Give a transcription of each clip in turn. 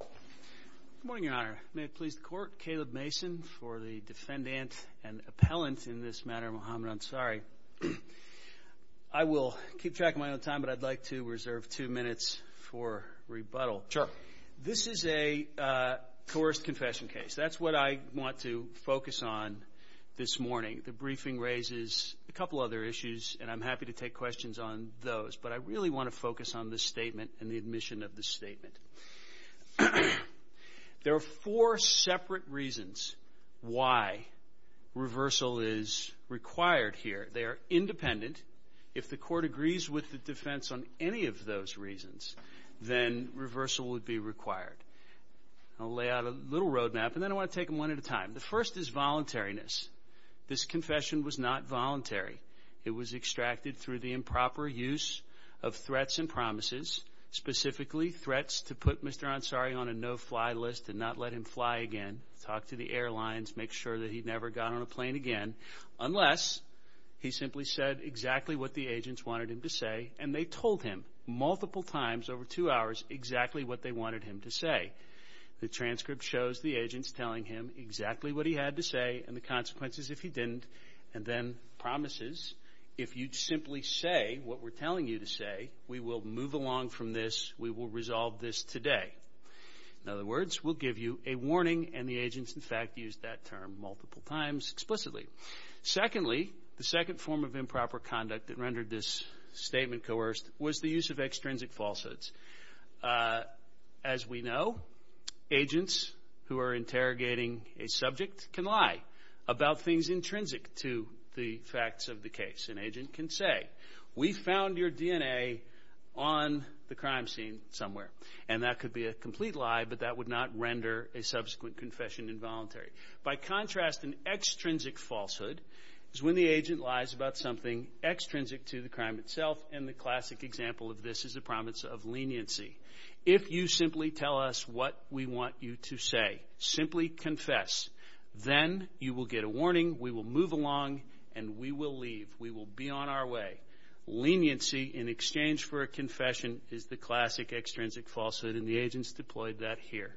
Good morning, Your Honor. May it please the Court, Caleb Mason for the defendant and appellant in this matter, Muhammad Ansari. I will keep track of my own time, but I'd like to reserve two minutes for rebuttal. Sure. This is a coerced confession case. That's what I want to focus on this morning. The briefing raises a couple other issues, and I'm happy to take questions on those. But I really want to focus on the statement and the admission of the statement. There are four separate reasons why reversal is required here. They are independent. If the Court agrees with the defense on any of those reasons, then reversal would be required. I'll lay out a little road map, and then I want to take them one at a time. The first is voluntariness. This confession was not voluntary. It was extracted through the improper use of threats and promises, specifically threats to put Mr. Ansari on a no-fly list and not let him fly again, talk to the airlines, make sure that he never got on a plane again, unless he simply said exactly what the agents wanted him to say, and they told him multiple times over two hours exactly what they wanted him to say. The transcript shows the agents telling him exactly what he had to say and the consequences if he didn't, and then promises, if you'd simply say what we're telling you to say, we will move along from this. We will resolve this today. In other words, we'll give you a warning, and the agents, in fact, used that term multiple times explicitly. Secondly, the second form of improper conduct that rendered this statement coerced was the use of extrinsic falsehoods. As we know, agents who are interrogating a subject can lie about things intrinsic to the facts of the case. An agent can say, we found your DNA on the crime scene somewhere, and that could be a complete lie, but that would not render a subsequent confession involuntary. By contrast, an extrinsic falsehood is when the agent lies about something extrinsic to the crime itself, and the classic example of this is a promise of leniency. If you simply tell us what we want you to say, simply confess, then you will get a warning, we will move along, and we will leave. We will be on our way. Leniency in exchange for a confession is the classic extrinsic falsehood, and the agents deployed that here.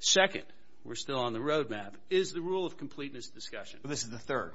Second, we're still on the road map, is the rule of completeness discussion. This is the third?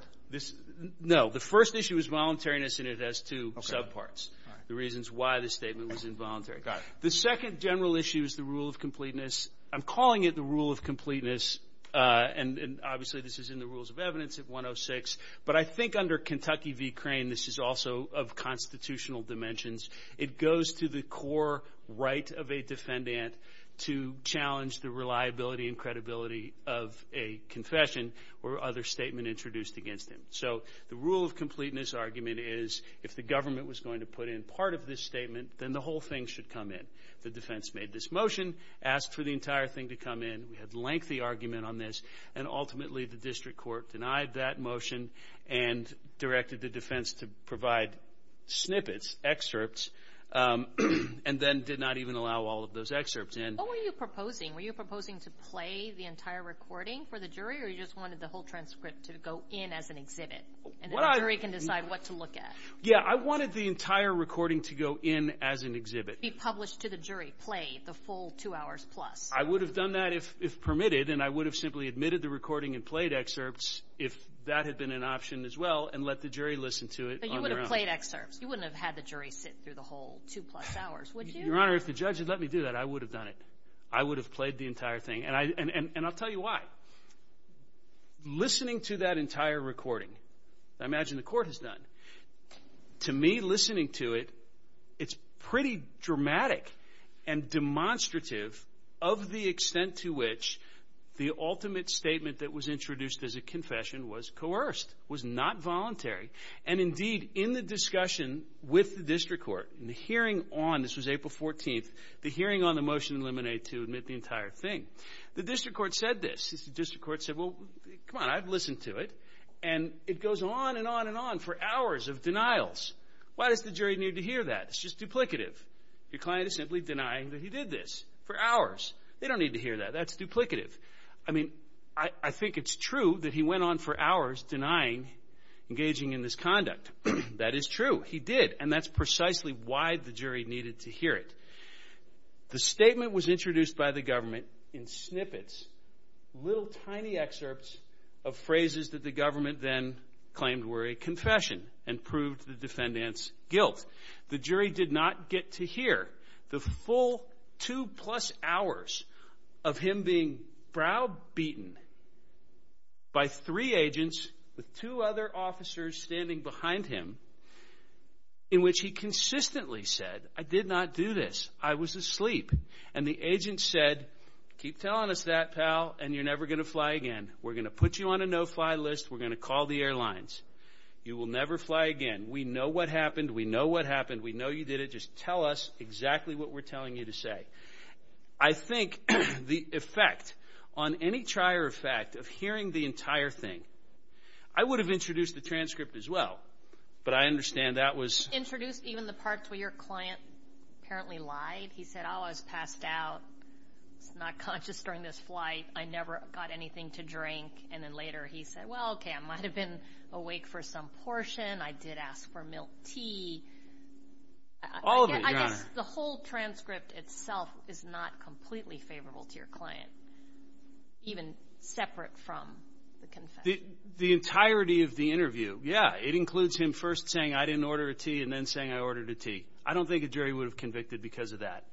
No, the first issue is voluntariness, and it has two subparts, the reasons why the statement was involuntary. The second general issue is the rule of completeness. I'm calling it the rule of completeness, and obviously this is in the rules of evidence at 106, but I think under Kentucky v. Crane, this is also of constitutional dimensions, it goes to the core right of a defendant to challenge the reliability and credibility of a confession or other statement introduced against him. So, the rule of completeness argument is, if the government was going to put in part of this statement, then the whole thing should come in. The defense made this motion, asked for the entire thing to come in, we had lengthy argument on this, and ultimately the district court denied that motion, and directed the defense to provide snippets, excerpts, and then did not even allow all of those excerpts in. What were you proposing? Were you proposing to play the entire recording for the jury, or you just wanted the whole transcript to go in as an exhibit, and the jury can decide what to look at? Yeah, I wanted the entire recording to go in as an exhibit, to be published to the jury, played, the full two hours plus. I would have done that if permitted, and I would have simply admitted the recording and played excerpts if that had been an option as well, and let the jury listen to it on their own. But you would have played excerpts, you wouldn't have had the jury sit through the whole two plus hours, would you? Your Honor, if the judge had let me do that, I would have done it. I would have played the entire thing, and I'll tell you why. Listening to that entire recording, I imagine the court has done. To me, listening to it, it's pretty dramatic and demonstrative of the extent to which the ultimate statement that was introduced as a confession was coerced, was not voluntary. And indeed, in the discussion with the district court, in the hearing on, this was April 14th, the hearing on the motion to eliminate to admit the entire thing, the district court said this. The district court said, well, come on, I've listened to it, and it goes on and on and on for hours of denials. Why does the jury need to hear that? It's just duplicative. Your client is simply denying that he did this for hours. They don't need to hear that. That's duplicative. I mean, I think it's true that he went on for hours denying engaging in this conduct. That is true. He did, and that's precisely why the jury needed to hear it. The statement was introduced by the government in snippets, little tiny excerpts of phrases that the government then claimed were a confession and proved the defendant's guilt. The jury did not get to hear the full two plus hours of him being browbeaten by three agents with two other officers standing behind him in which he consistently said, I did not do this. I was asleep. And the agent said, keep telling us that, pal, and you're never going to fly again. We're going to put you on a no-fly list. We're going to call the airlines. You will never fly again. We know what happened. We know what happened. We know you did it. Just tell us exactly what we're telling you to say. I think the effect on any trier of fact of hearing the entire thing, I would have introduced the transcript as well, but I understand that was... Introduced even the parts where your client apparently lied. He said, oh, I was passed out. I was not conscious during this flight. I never got anything to drink. And then later he said, well, okay, I might have been awake for some portion. I did ask for milk tea. All of it, Your Honor. I guess the whole transcript itself is not completely favorable to your client, even separate from the confession. The entirety of the interview, yeah. It includes him first saying, I didn't order a tea, and then saying I ordered a tea. I don't think a jury would have convicted because of that.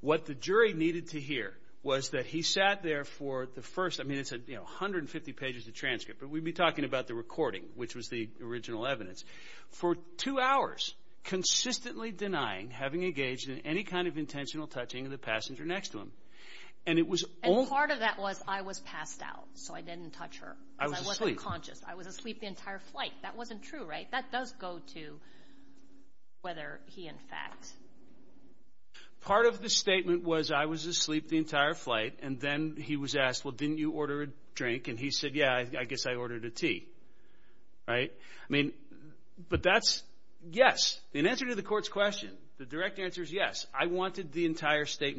What the jury needed to hear was that he sat there for the first, I mean, it's 150 pages of transcript, but we'd be talking about the recording, which was the original evidence, for two hours, consistently denying having engaged in any kind of intentional touching of the passenger next to him. And it was... Part of that was, I was passed out, so I didn't touch her, because I wasn't conscious. I was asleep the entire flight. That wasn't true, right? That does go to whether he, in fact... Part of the statement was, I was asleep the entire flight, and then he was asked, well, didn't you order a drink? And he said, yeah, I guess I ordered a tea, right? I mean, but that's... Yes. In answer to the court's question, the direct answer is yes. I wanted the entire listening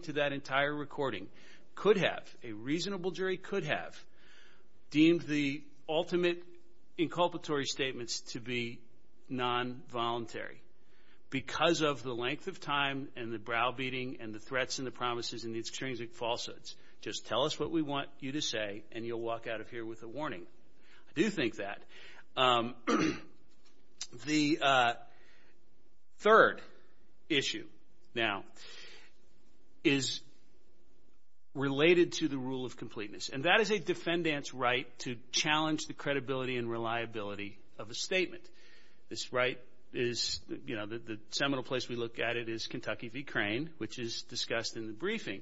to that entire recording could have, a reasonable jury could have, deemed the ultimate inculpatory statements to be non-voluntary, because of the length of time and the brow-beating and the threats and the promises and the extrinsic falsehoods. Just tell us what we want you to say, and you'll walk out of here with a warning. I do think that. The third issue, now, is related to the rule of completeness. And that is a defendant's right to challenge the credibility and reliability of a statement. This right is, you know, the seminal place we look at it is Kentucky v. Crane, which is discussed in the briefing.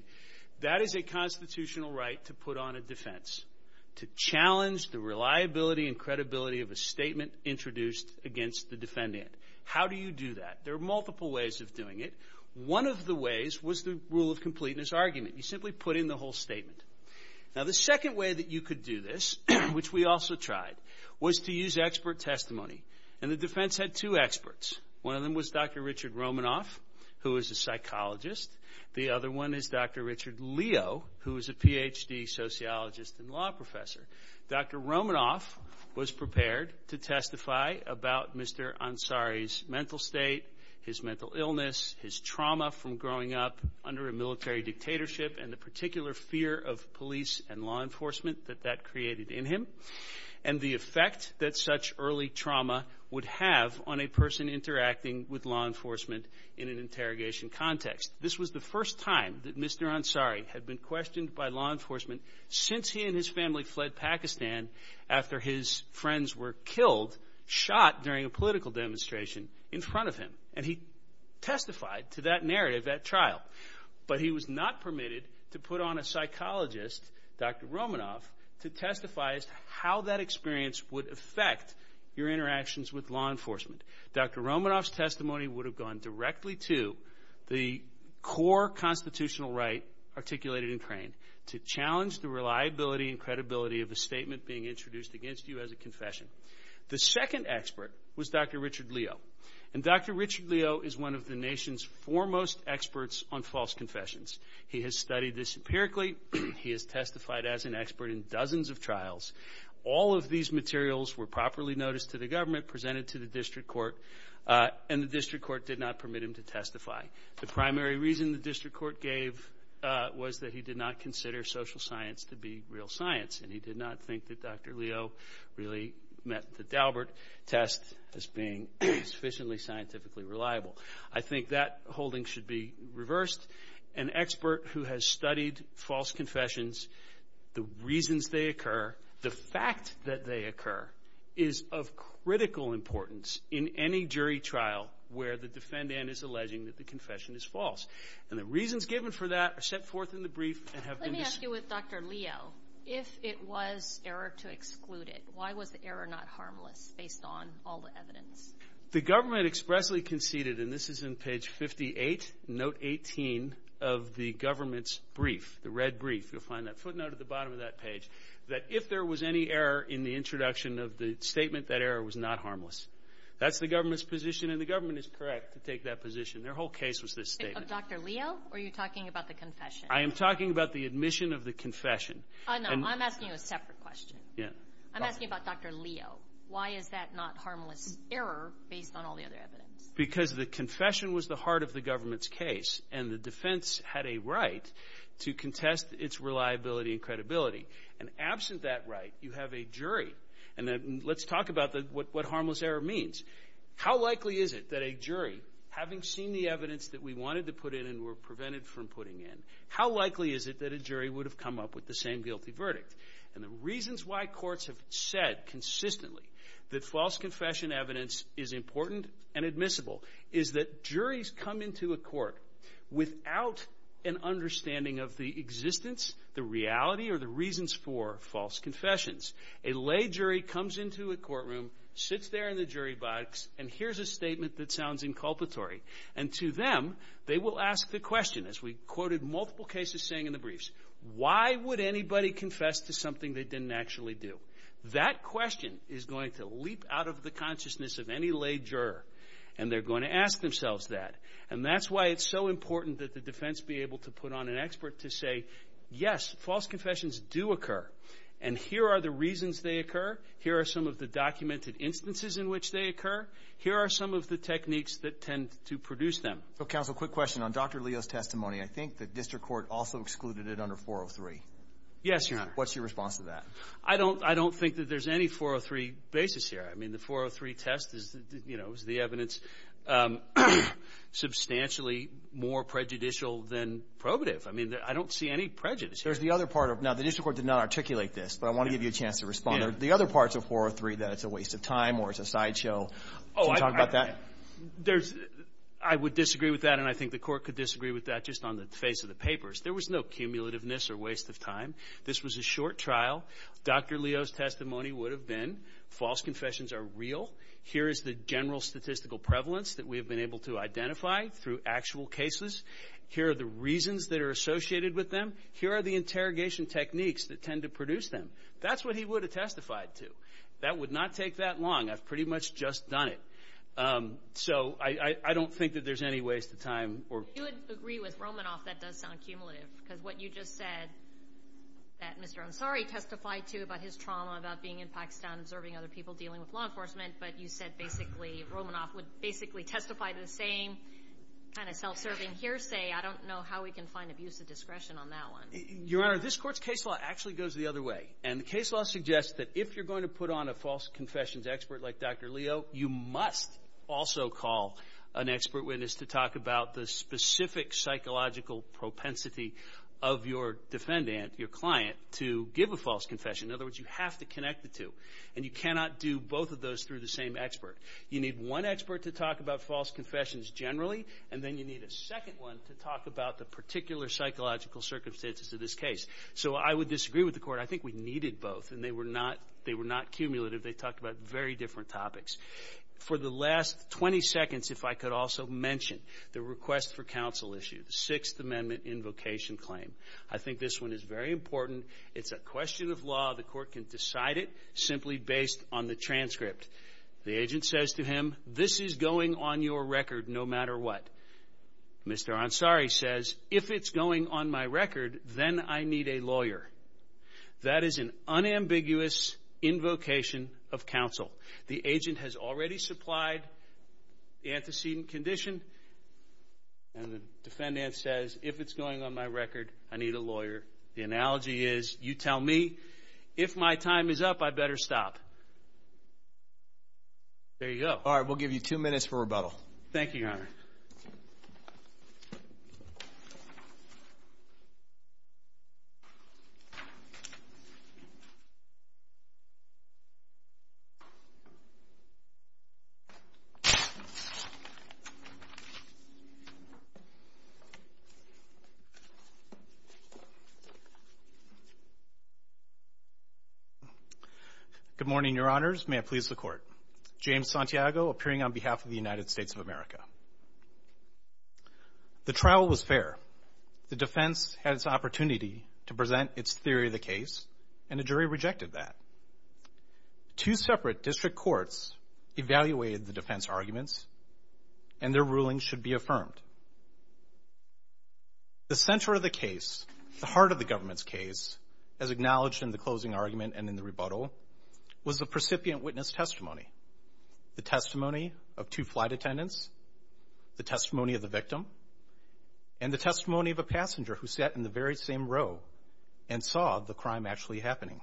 That is a constitutional right to put on a defense, to challenge the reliability and credibility of a statement introduced against the defendant. How do you do that? There are multiple ways of doing it. One of the ways was the rule of completeness argument. You simply put in the whole statement. Now, the second way that you could do this, which we also tried, was to use expert testimony. And the defense had two experts. One of them was Dr. Richard Romanoff, who is a psychologist. The other one is Dr. Richard Leo, who is a Ph.D. sociologist and law professor. Dr. Romanoff was prepared to testify about Mr. Ansari's mental state, his mental illness, his trauma from growing up under a military dictatorship and the particular fear of police and law enforcement that that created in him, and the effect that such early trauma would have on a person interacting with law enforcement in an interrogation context. This was the first time that Mr. Ansari had been questioned by law enforcement since he and his family fled Pakistan after his friends were killed, shot during a political demonstration in front of him. And he testified to that narrative at trial. But he was not permitted to put on a psychologist, Dr. Romanoff, to testify to how that experience would affect your interactions with law enforcement. Dr. Romanoff's testimony would have gone directly to the core constitutional right articulated in Crane to challenge the reliability and credibility of a statement being introduced against you as a confession. The second expert was Dr. Richard Leo. And Dr. Richard Leo is one of the nation's foremost experts on false confessions. He has studied this empirically. He has testified as an expert in dozens of trials. All of these materials were properly noticed to the government, presented to the district court, and the district court did not permit him to testify. The primary reason the district court gave was that he did not consider social science to be real science and he did not think that Dr. Leo really met the Daubert test as being sufficiently scientifically reliable. I think that holding should be reversed. An expert who has studied false confessions, the reasons they occur, the fact that they occur, is of critical importance in any jury trial where the defendant is alleging that the confession is false. And the reasons given for that are set forth in the brief and have been... Let me ask you with Dr. Leo, if it was error to exclude it, why was the error not harmless based on all the evidence? The government expressly conceded, and this is in page 58, note 18 of the government's brief, the red brief, you'll find that footnote at the bottom of that page, that if there was any error in the introduction of the statement, that error was not harmless. That's the government's position and the government is correct to take that position. Their whole case was this statement. Of Dr. Leo, or are you talking about the confession? I am talking about the admission of the confession. Oh, no, I'm asking you a separate question. Yeah. I'm asking about Dr. Leo. Why is that not harmless error based on all the other evidence? Because the confession was the heart of the government's case and the defense had a right to contest its reliability and credibility. And absent that right, you have a jury. And let's talk about what harmless error means. How likely is it that a jury, having seen the evidence that we wanted to put in and were prevented from putting in, how likely is it that a jury would have come up with the same guilty verdict? And the reasons why courts have said consistently that false confession evidence is important and admissible is that juries come into a court without an understanding of the existence, the reality, or the reasons for false confessions. A lay jury comes into a courtroom, sits there in the jury box, and hears a statement that sounds inculpatory. And to them, they will ask the question, as we quoted multiple cases saying in the briefs, why would anybody confess to something they didn't actually do? That question is going to leap out of the consciousness of any lay juror. And they're going to ask themselves that. And that's why it's so important that the defense be able to put on an expert to say, yes, false confessions do occur. And here are the reasons they occur. Here are some of the documented instances in which they occur. Here are some of the techniques that tend to produce them. So, counsel, quick question. On Dr. Leo's testimony, I think the district court also excluded it under 403. Yes, Your Honor. What's your response to that? I don't think that there's any 403 basis here. I mean, the 403 test is, you know, is the evidence substantially more prejudicial than probative. I mean, I don't see any prejudice here. There's the other part of it. Now, the district court did not articulate this, but I want to give you a chance to respond. The other parts of 403, that it's a waste of time or it's a sideshow. Can you talk about that? I would disagree with that. And I think the court could disagree with that just on the face of the papers. There was no cumulativeness or waste of time. This was a short trial. Dr. Leo's testimony would have been false confessions are real. Here is the general statistical prevalence that we have been able to identify through actual cases. Here are the reasons that are associated with them. Here are the interrogation techniques that tend to produce them. That's what he would have testified to. That would not take that long. I've pretty much just done it. So I don't think that there's any waste of time. I would agree with Romanoff. That does sound cumulative because what you just said that Mr. Ansari testified to about his trauma, about being in Pakistan, observing other people dealing with law enforcement. But you said basically Romanoff would basically testify to the same kind of self-serving hearsay. I don't know how we can find abuse of discretion on that one. Your Honor, this court's case law actually goes the other way. And the case law suggests that if you're going to put on a false confessions expert like Dr. Leo, you must also call an expert witness to talk about the specific psychological propensity of your defendant, your client, to give a false confession. In other words, you have to connect the two. And you cannot do both of those through the same expert. You need one expert to talk about false confessions generally. And then you need a second one to talk about the particular psychological circumstances of this case. So I would disagree with the court. I think we needed both. And they were not cumulative. They talked about very different topics. For the last 20 seconds, if I could also mention the request for counsel issue, the Sixth Amendment invocation claim. I think this one is very important. It's a question of law. The court can decide it simply based on the transcript. The agent says to him, this is going on your record no matter what. Mr. Ansari says, if it's going on my record, then I need a lawyer. That is an unambiguous invocation of counsel. The agent has already supplied the antecedent condition. And the defendant says, if it's going on my record, I need a lawyer. The analogy is, you tell me. If my time is up, I better stop. There you go. All right. We'll give you two minutes for rebuttal. Thank you, Your Honor. Good morning, Your Honors. May it please the Court. James Santiago, appearing on behalf of the United States of America. The trial was fair. The defense had its opportunity to present its theory of the case, and the jury rejected that. Two separate district courts evaluated the defense arguments, and their ruling should be affirmed. The center of the case, the heart of the government's case, as acknowledged in the closing argument and in the rebuttal, was the precipient witness testimony. The testimony of two flight attendants, the testimony of the victim, and the testimony of a passenger who sat in the very same row and saw the crime actually happening.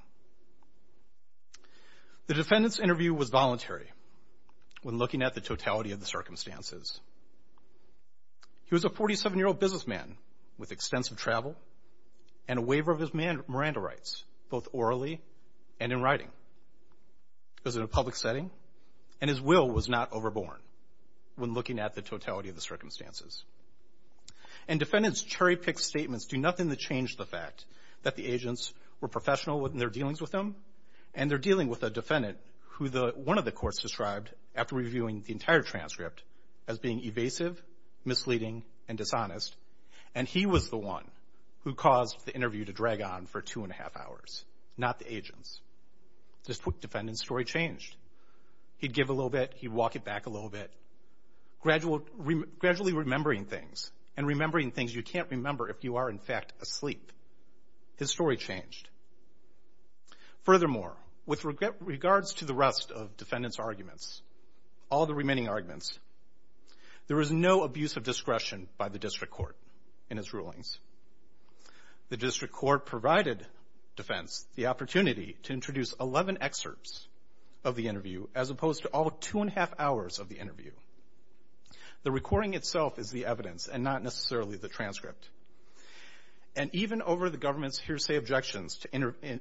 The defendant's interview was voluntary when looking at the totality of the circumstances. He was a 47-year-old businessman with extensive travel and a waiver of his Miranda rights, both orally and in writing. It was in a public setting, and his will was not overborne when looking at the totality of the circumstances. And defendants' cherry-picked statements do nothing to change the fact that the agents were professional in their dealings with him, and they're dealing with a defendant who one of the courts described after reviewing the entire transcript as being evasive, misleading, and dishonest, and he was the one who caused the interview to drag on for two-and-a-half hours, not the agents. The defendant's story changed. He'd give a little bit, he'd walk it back a little bit, gradually remembering things, and remembering things you can't remember if you are in fact asleep. His story changed. Furthermore, with regards to the rest of defendants' arguments, all the remaining arguments, there was no abuse of discretion by the district court in its rulings. The district court provided defense the opportunity to introduce 11 excerpts of the interview as opposed to all two-and-a-half hours of the interview. The recording itself is the evidence and not necessarily the transcript. And even over the government's hearsay objections to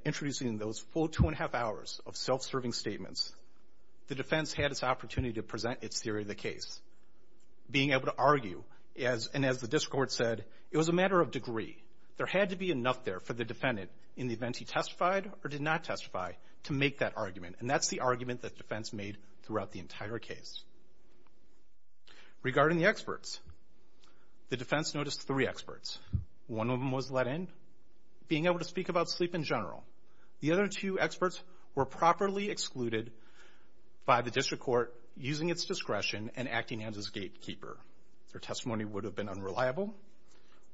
introducing those full two-and-a-half hours of self-serving statements, the defense had this opportunity to present its theory of the case. Being able to argue, and as the district court said, it was a matter of degree. There had to be enough there for the defendant in the event he testified or did not testify to make that argument. And that's the argument that defense made throughout the entire case. Regarding the experts, the defense noticed three experts. One of them was let in. Being able to speak about sleep in general. The other two experts were properly excluded by the district court using its discretion and acting as its gatekeeper. Their testimony would have been unreliable.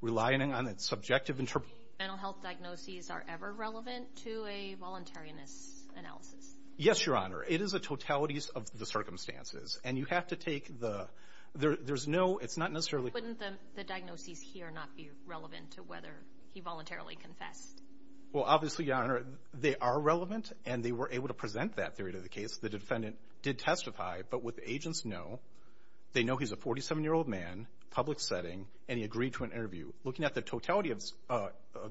Relying on its subjective interpretation. Mental health diagnoses are ever relevant to a voluntarianist's analysis? Yes, Your Honor. It is a totality of the circumstances. And you have to take the... There's no... It's not necessarily... Wouldn't the diagnoses here not be relevant to whether he voluntarily confessed? Well, obviously, Your Honor, they are relevant and they were able to present that theory to the case. The defendant did testify, but what the agents know, they know he's a 47-year-old man, public setting, and he agreed to an interview. Looking at the totality of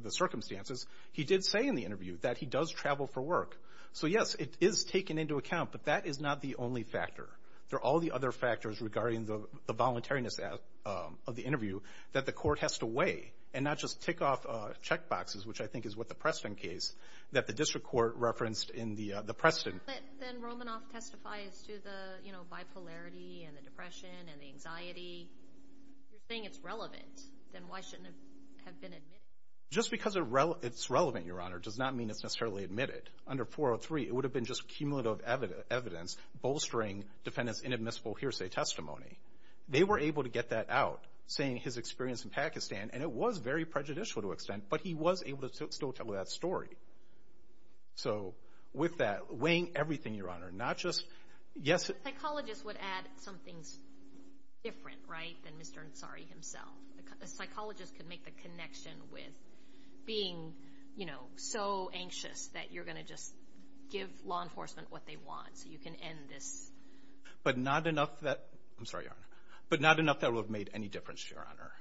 the circumstances, he did say in the interview that he does travel for work. So yes, it is taken into account, but that is not the only factor. There are all the other factors regarding the voluntariness of the interview that the court has to weigh and not just tick off checkboxes, which I think is what the Preston case that the district court referenced in the Preston... Then Romanoff testifies to the, you know, bipolarity and the depression and the anxiety. If you're saying it's relevant, then why shouldn't it have been admitted? Just because it's relevant, Your Honor, does not mean it's necessarily admitted. Under 403, it would have been just cumulative evidence bolstering defendant's inadmissible hearsay testimony. They were able to get that out, saying his experience in Pakistan, and it was very prejudicial to an extent, but he was able to still tell that story. So with that, weighing everything, Your Honor, not just... Psychologists would add some things different, right, than Mr. Ansari himself. A psychologist could make the connection with being, you know, so anxious that you're going to just give law enforcement what they want so you can end this. But not enough that... I'm sorry, Your Honor. But not enough that it would have made any difference, Your Honor.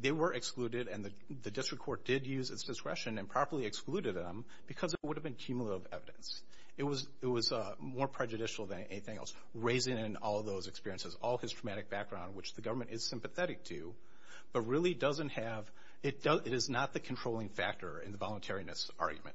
They were excluded, and the district court did use its discretion and properly excluded them because it would have been cumulative evidence. It was more prejudicial than anything else. Raising in all those experiences, all his traumatic background, which the government is sympathetic to, but really doesn't have... It is not the controlling factor in the voluntariness argument.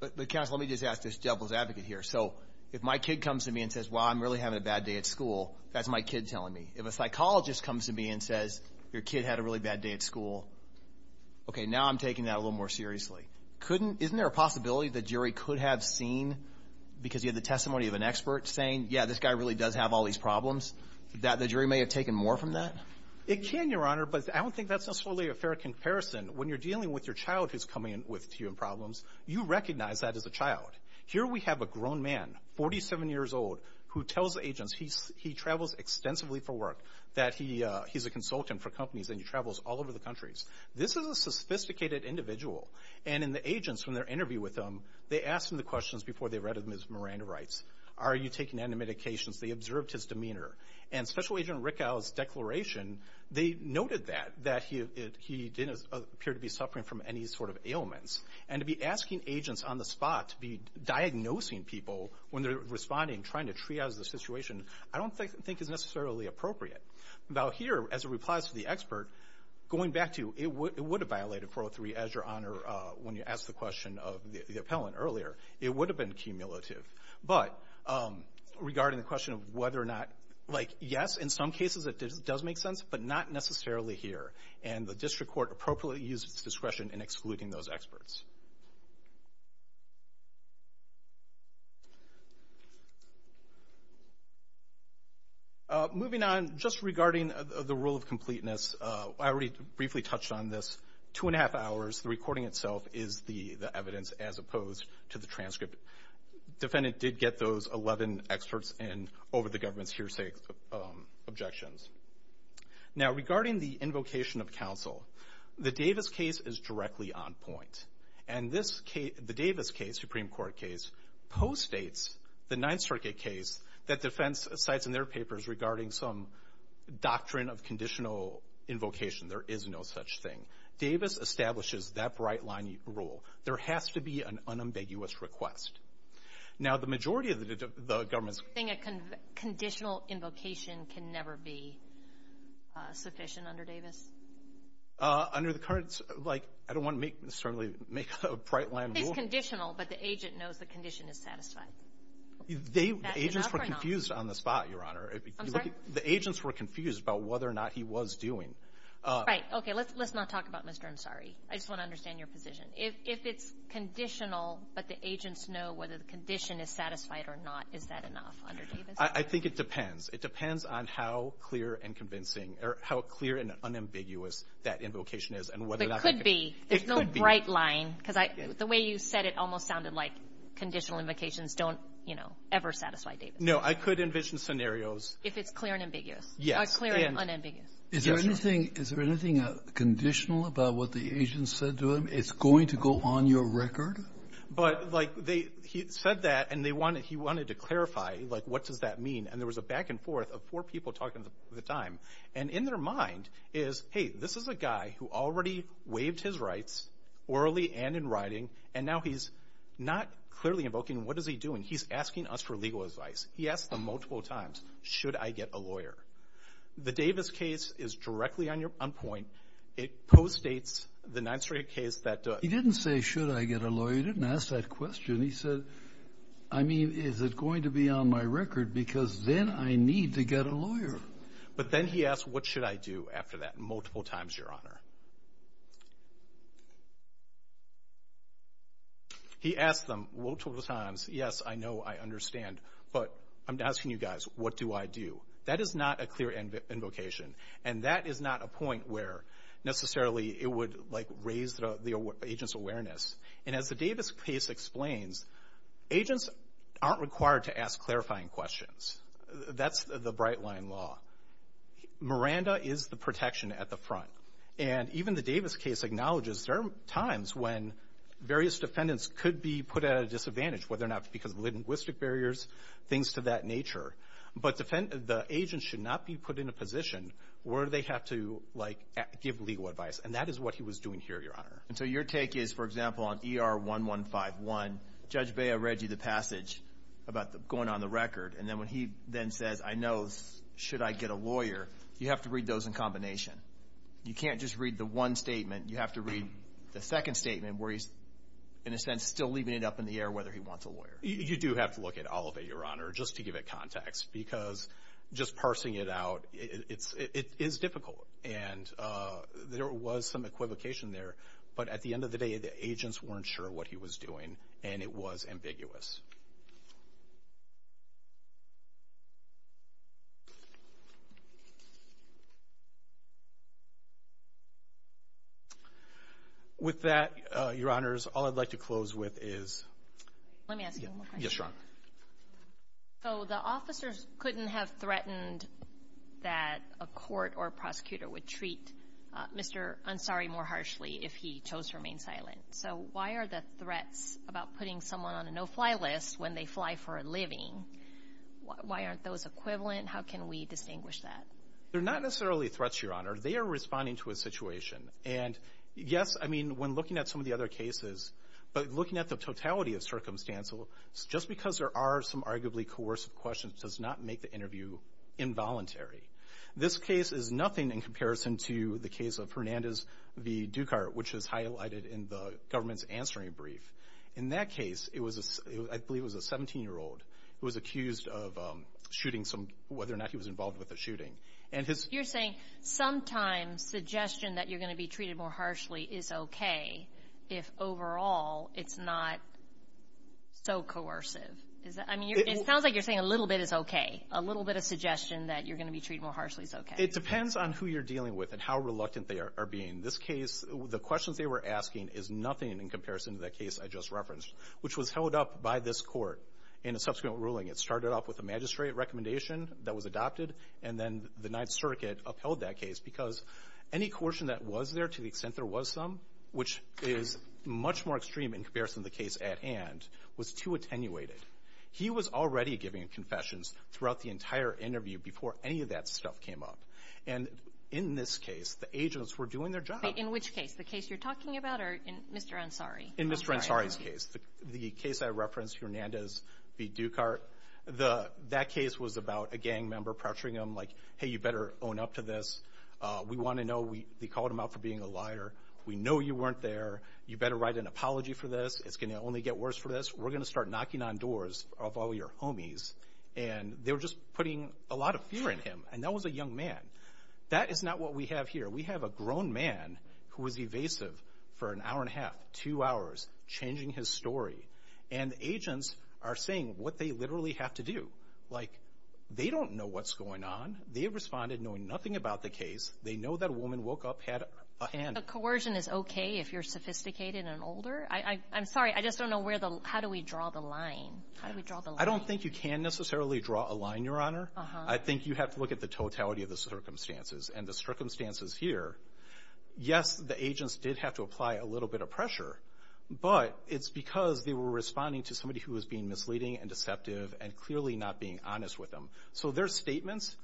But counsel, let me just ask this devil's advocate here. So if my kid comes to me and says, well, I'm really having a bad day at school, that's my kid telling me. If a psychologist comes to me and says, your kid had a really bad day at school, okay, now I'm taking that a little more seriously. Couldn't... Isn't there a possibility the jury could have seen, because you had the testimony of an expert, saying, yeah, this guy really does have all these problems, that the jury may have taken more from that? It can, Your Honor, but I don't think that's necessarily a fair comparison. When you're dealing with your child who's coming to you with problems, you recognize that as a child. Here we have a grown man, 47 years old, who tells agents he travels extensively for work, that he's a consultant for companies, and he travels all over the countries. This is a sophisticated individual, and in the agents, when they're interviewed with him, they asked him the questions before they read them, as Miranda writes. Are you taking any medications? They observed his demeanor. And Special Agent Rickow's declaration, they noted that, that he didn't appear to be suffering from any sort of ailments. And to be asking agents on the spot to be diagnosing people when they're responding, trying to triage the situation, I don't think is necessarily appropriate. Now here, as it replies to the expert, going back to, it would have violated 403, as Your Honor, when you asked the question of the appellant earlier. It would have been cumulative. But regarding the question of whether or not, like, yes, in some cases it does make sense, but not necessarily here. And the district court appropriately uses its discretion in excluding those experts. Moving on, just regarding the rule of completeness, I already briefly touched on this. Two and a half hours, the recording itself is the evidence, as opposed to the transcript. Defendant did get those 11 experts in over the government's hearsay objections. Now regarding the invocation of counsel, the Davis case is directly on point. And this case, the Davis case, Supreme Court case, post-states the Ninth Circuit case that defense cites in their papers regarding some doctrine of conditional invocation. There is no such thing. Davis establishes that bright line rule. There has to be an unambiguous request. Now the majority of the government's... I think a conditional invocation can never be sufficient under Davis? Under the current, like, I don't want to make, certainly, make a bright line rule. It's conditional, but the agent knows the condition is satisfied. They, the agents were confused on the spot, Your Honor. I'm sorry? The agents were confused about whether or not he was doing... Right. Okay. Let's not talk about Mr. Ansari. I just want to understand your position. If it's conditional, but the agents know whether the condition is satisfied or not, is that enough under Davis? I think it depends. It depends on how clear and convincing or how clear and unambiguous that invocation is and whether or not... It could be. It could be. There's no bright line. Because I, the way you said it almost sounded like conditional invocations don't, you know, ever satisfy Davis. No. I could envision scenarios... If it's clear and ambiguous. Yes. Clear and unambiguous. Is there anything conditional about what the agent said to him? It's going to go on your record? But, like, he said that and he wanted to clarify, like, what does that mean? And there was a back and forth of four people talking at the time. And in their mind is, hey, this is a guy who already waived his rights, orally and in writing, and now he's not clearly invoking. What is he doing? He's asking us for legal advice. He asked them multiple times, should I get a lawyer? The Davis case is directly on point. It post-states the 9th Street case that... He didn't say, should I get a lawyer. He didn't ask that question. He said, I mean, is it going to be on my record? Because then I need to get a lawyer. But then he asked, what should I do after that? Multiple times, Your Honor. He asked them multiple times, yes, I know, I understand. But I'm asking you guys, what do I do? That is not a clear invocation. And that is not a point where necessarily it would, like, raise the agent's awareness. And as the Davis case explains, agents aren't required to ask clarifying questions. That's the bright line law. Miranda is the protection at the front. And even the Davis case acknowledges there are times when various defendants could be put at a disadvantage, whether or not because of linguistic barriers, things to that nature. But the agent should not be put in a position where they have to, like, give legal advice. And that is what he was doing here, Your Honor. And so your take is, for example, on ER-1151, Judge Bea read you the passage about going on the record. And then when he then says, I know, should I get a lawyer, you have to read those in combination. You can't just read the one statement. You have to read the second statement where he's, in a sense, still leaving it up in the air whether he wants a lawyer. You do have to look at all of it, Your Honor, just to give it context. Because just parsing it out, it is difficult. And there was some equivocation there. But at the end of the day, the agents weren't sure what he was doing. And it was ambiguous. With that, Your Honors, all I'd like to close with is. Let me ask you one more question. So the officers couldn't have threatened that a court or a prosecutor would treat Mr. Ansari more harshly if he chose to remain silent. So why are the threats about putting someone on a no-fly list when they fly for a living, why aren't those equivalent? How can we distinguish that? They're not necessarily threats, Your Honor. They are responding to a situation. And yes, I mean, when looking at some of the other cases, but looking at the totality of circumstances, just because there are some arguably coercive questions does not make the interview involuntary. This case is nothing in comparison to the case of Hernandez v. Dukart, which is highlighted in the government's answering brief. In that case, I believe it was a 17-year-old who was accused of shooting some, whether or not he was involved with the shooting. And his- You're saying sometimes suggestion that you're going to be treated more harshly is okay if overall it's not so coercive. I mean, it sounds like you're saying a little bit is okay. A little bit of suggestion that you're going to be treated more harshly is okay. It depends on who you're dealing with and how reluctant they are being. This case, the questions they were asking is nothing in comparison to that case I just referenced, which was held up by this court in a subsequent ruling. It started off with a magistrate recommendation that was adopted, and then the Ninth Circuit upheld that case because any coercion that was there, to the extent there was some, which is much more extreme in comparison to the case at hand, was too attenuated. He was already giving confessions throughout the entire interview before any of that stuff came up. And in this case, the agents were doing their job. In which case? The case you're talking about or in Mr. Ansari? In Mr. Ansari's case. The case I referenced, Hernandez v. Dukart, that case was about a gang member pressuring him like, hey, you better own up to this. We want to know, they called him out for being a liar. We know you weren't there. You better write an apology for this. It's going to only get worse for this. We're going to start knocking on doors of all your homies. And they were just putting a lot of fear in him. And that was a young man. That is not what we have here. We have a grown man who was evasive for an hour and a half, two hours, changing his story. And agents are saying what they literally have to do. Like, they don't know what's going on. They responded knowing nothing about the case. They know that a woman woke up, had a hand. But coercion is okay if you're sophisticated and older? I'm sorry, I just don't know where the, how do we draw the line? How do we draw the line? I don't think you can necessarily draw a line, Your Honor. I think you have to look at the totality of the circumstances. And the circumstances here, yes, the agents did have to apply a little bit of pressure. But it's because they were responding to somebody who was being misleading and deceptive and clearly not being honest with them. So their statements,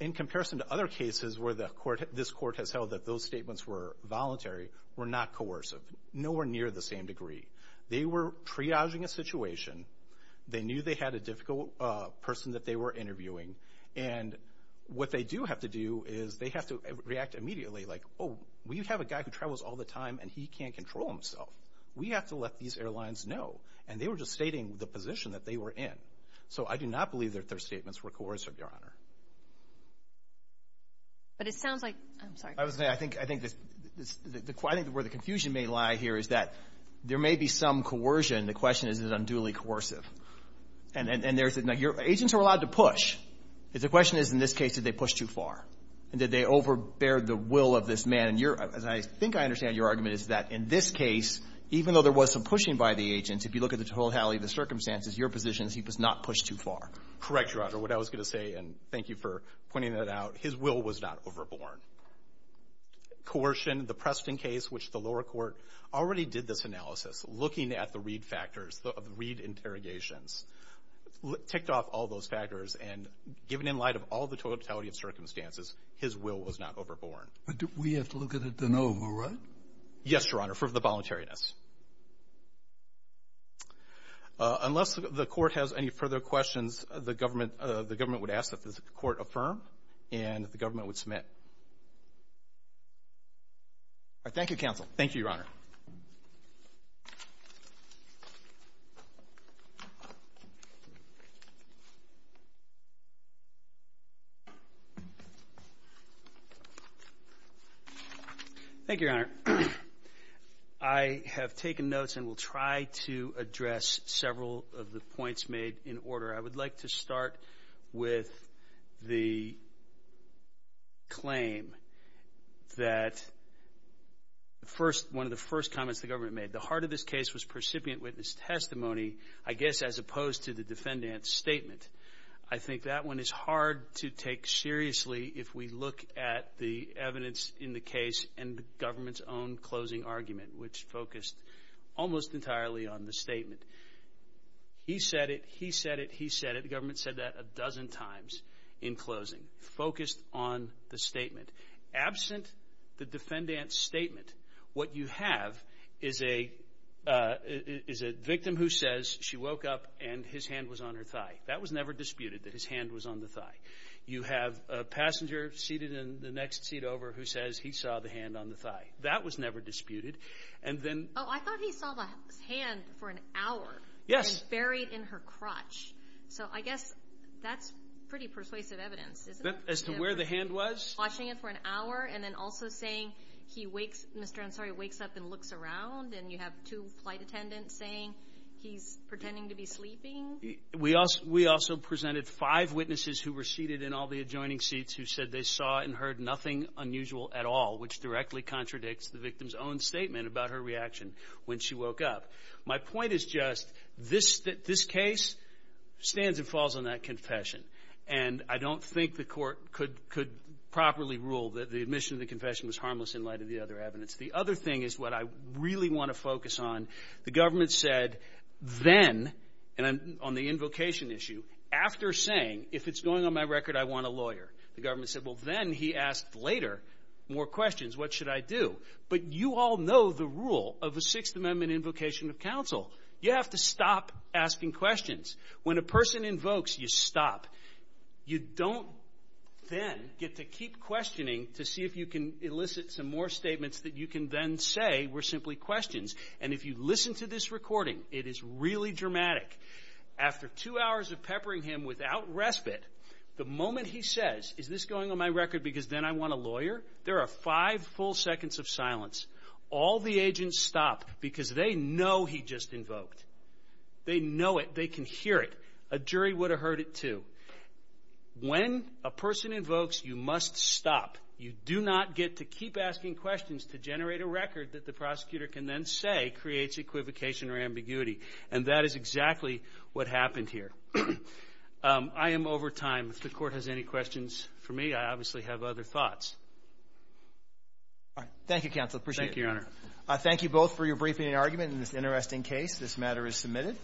in comparison to other cases where this court has held that those statements were voluntary, were not coercive. Nowhere near the same degree. They were triaging a situation. They knew they had a difficult person that they were interviewing. And what they do have to do is they have to react immediately. Like, oh, we have a guy who travels all the time and he can't control himself. We have to let these airlines know. And they were just stating the position that they were in. So I do not believe that their statements were coercive, Your Honor. But it sounds like, I'm sorry. I was gonna say, I think where the confusion may lie here is that there may be some coercion. The question is, is it unduly coercive? And agents are allowed to push. The question is, in this case, did they push too far? And did they overbear the will of this man? And I think I understand your argument is that in this case, even though there was some pushing by the agents, if you look at the totality of the circumstances, your positions, he was not pushed too far. Correct, Your Honor. What I was gonna say, and thank you for pointing that out, his will was not overborn. Coercion, the Preston case, which the lower court already did this analysis, looking at the read factors, the read interrogations, ticked off all those factors and given in light of all the totality of circumstances, his will was not overborn. But we have to look at it then over, right? Yes, Your Honor, for the voluntariness. Unless the court has any further questions, the government would ask that the court affirm and the government would submit. All right, thank you, counsel. Thank you, Your Honor. Thank you, Your Honor. Your Honor, I have taken notes and will try to address several of the points made in order. I would like to start with the claim that one of the first comments the government made, the heart of this case was percipient witness testimony, I guess, as opposed to the defendant's statement. I think that one is hard to take seriously if we look at the evidence in the case and the government's own closing argument, which focused almost entirely on the statement. He said it, he said it, he said it. The government said that a dozen times in closing, focused on the statement. Absent the defendant's statement, what you have is a victim who says she woke up and his hand was on her thigh. That was never disputed, that his hand was on the thigh. You have a passenger seated in the next seat over who says he saw the hand on the thigh. That was never disputed, and then. Oh, I thought he saw the hand for an hour. Yes. And buried in her crotch. So I guess that's pretty persuasive evidence, isn't it? As to where the hand was? Watching it for an hour and then also saying he wakes, Mr. Ansari wakes up and looks around and you have two flight attendants saying he's pretending to be sleeping. We also presented five witnesses who were seated in all the adjoining seats who said they saw and heard nothing unusual at all, which directly contradicts the victim's own statement about her reaction when she woke up. My point is just this case stands and falls on that confession. And I don't think the court could properly rule that the admission of the confession was harmless in light of the other evidence. The other thing is what I really wanna focus on. The government said then, and on the invocation issue, after saying, if it's going on my record, I want a lawyer, the government said, well, then he asked later more questions, what should I do? But you all know the rule of a Sixth Amendment invocation of counsel. You have to stop asking questions. When a person invokes, you stop. You don't then get to keep questioning to see if you can elicit some more statements that you can then say were simply questions. And if you listen to this recording, it is really dramatic. After two hours of peppering him without respite, the moment he says, is this going on my record because then I want a lawyer, there are five full seconds of silence. All the agents stop because they know he just invoked. They know it, they can hear it. A jury would have heard it too. When a person invokes, you must stop. You do not get to keep asking questions to generate a record that the prosecutor can then say creates equivocation or ambiguity. And that is exactly what happened here. I am over time. If the court has any questions for me, I obviously have other thoughts. All right. Thank you, counsel, appreciate it. Thank you, your honor. Thank you both for your briefing and argument in this interesting case. This matter is submitted.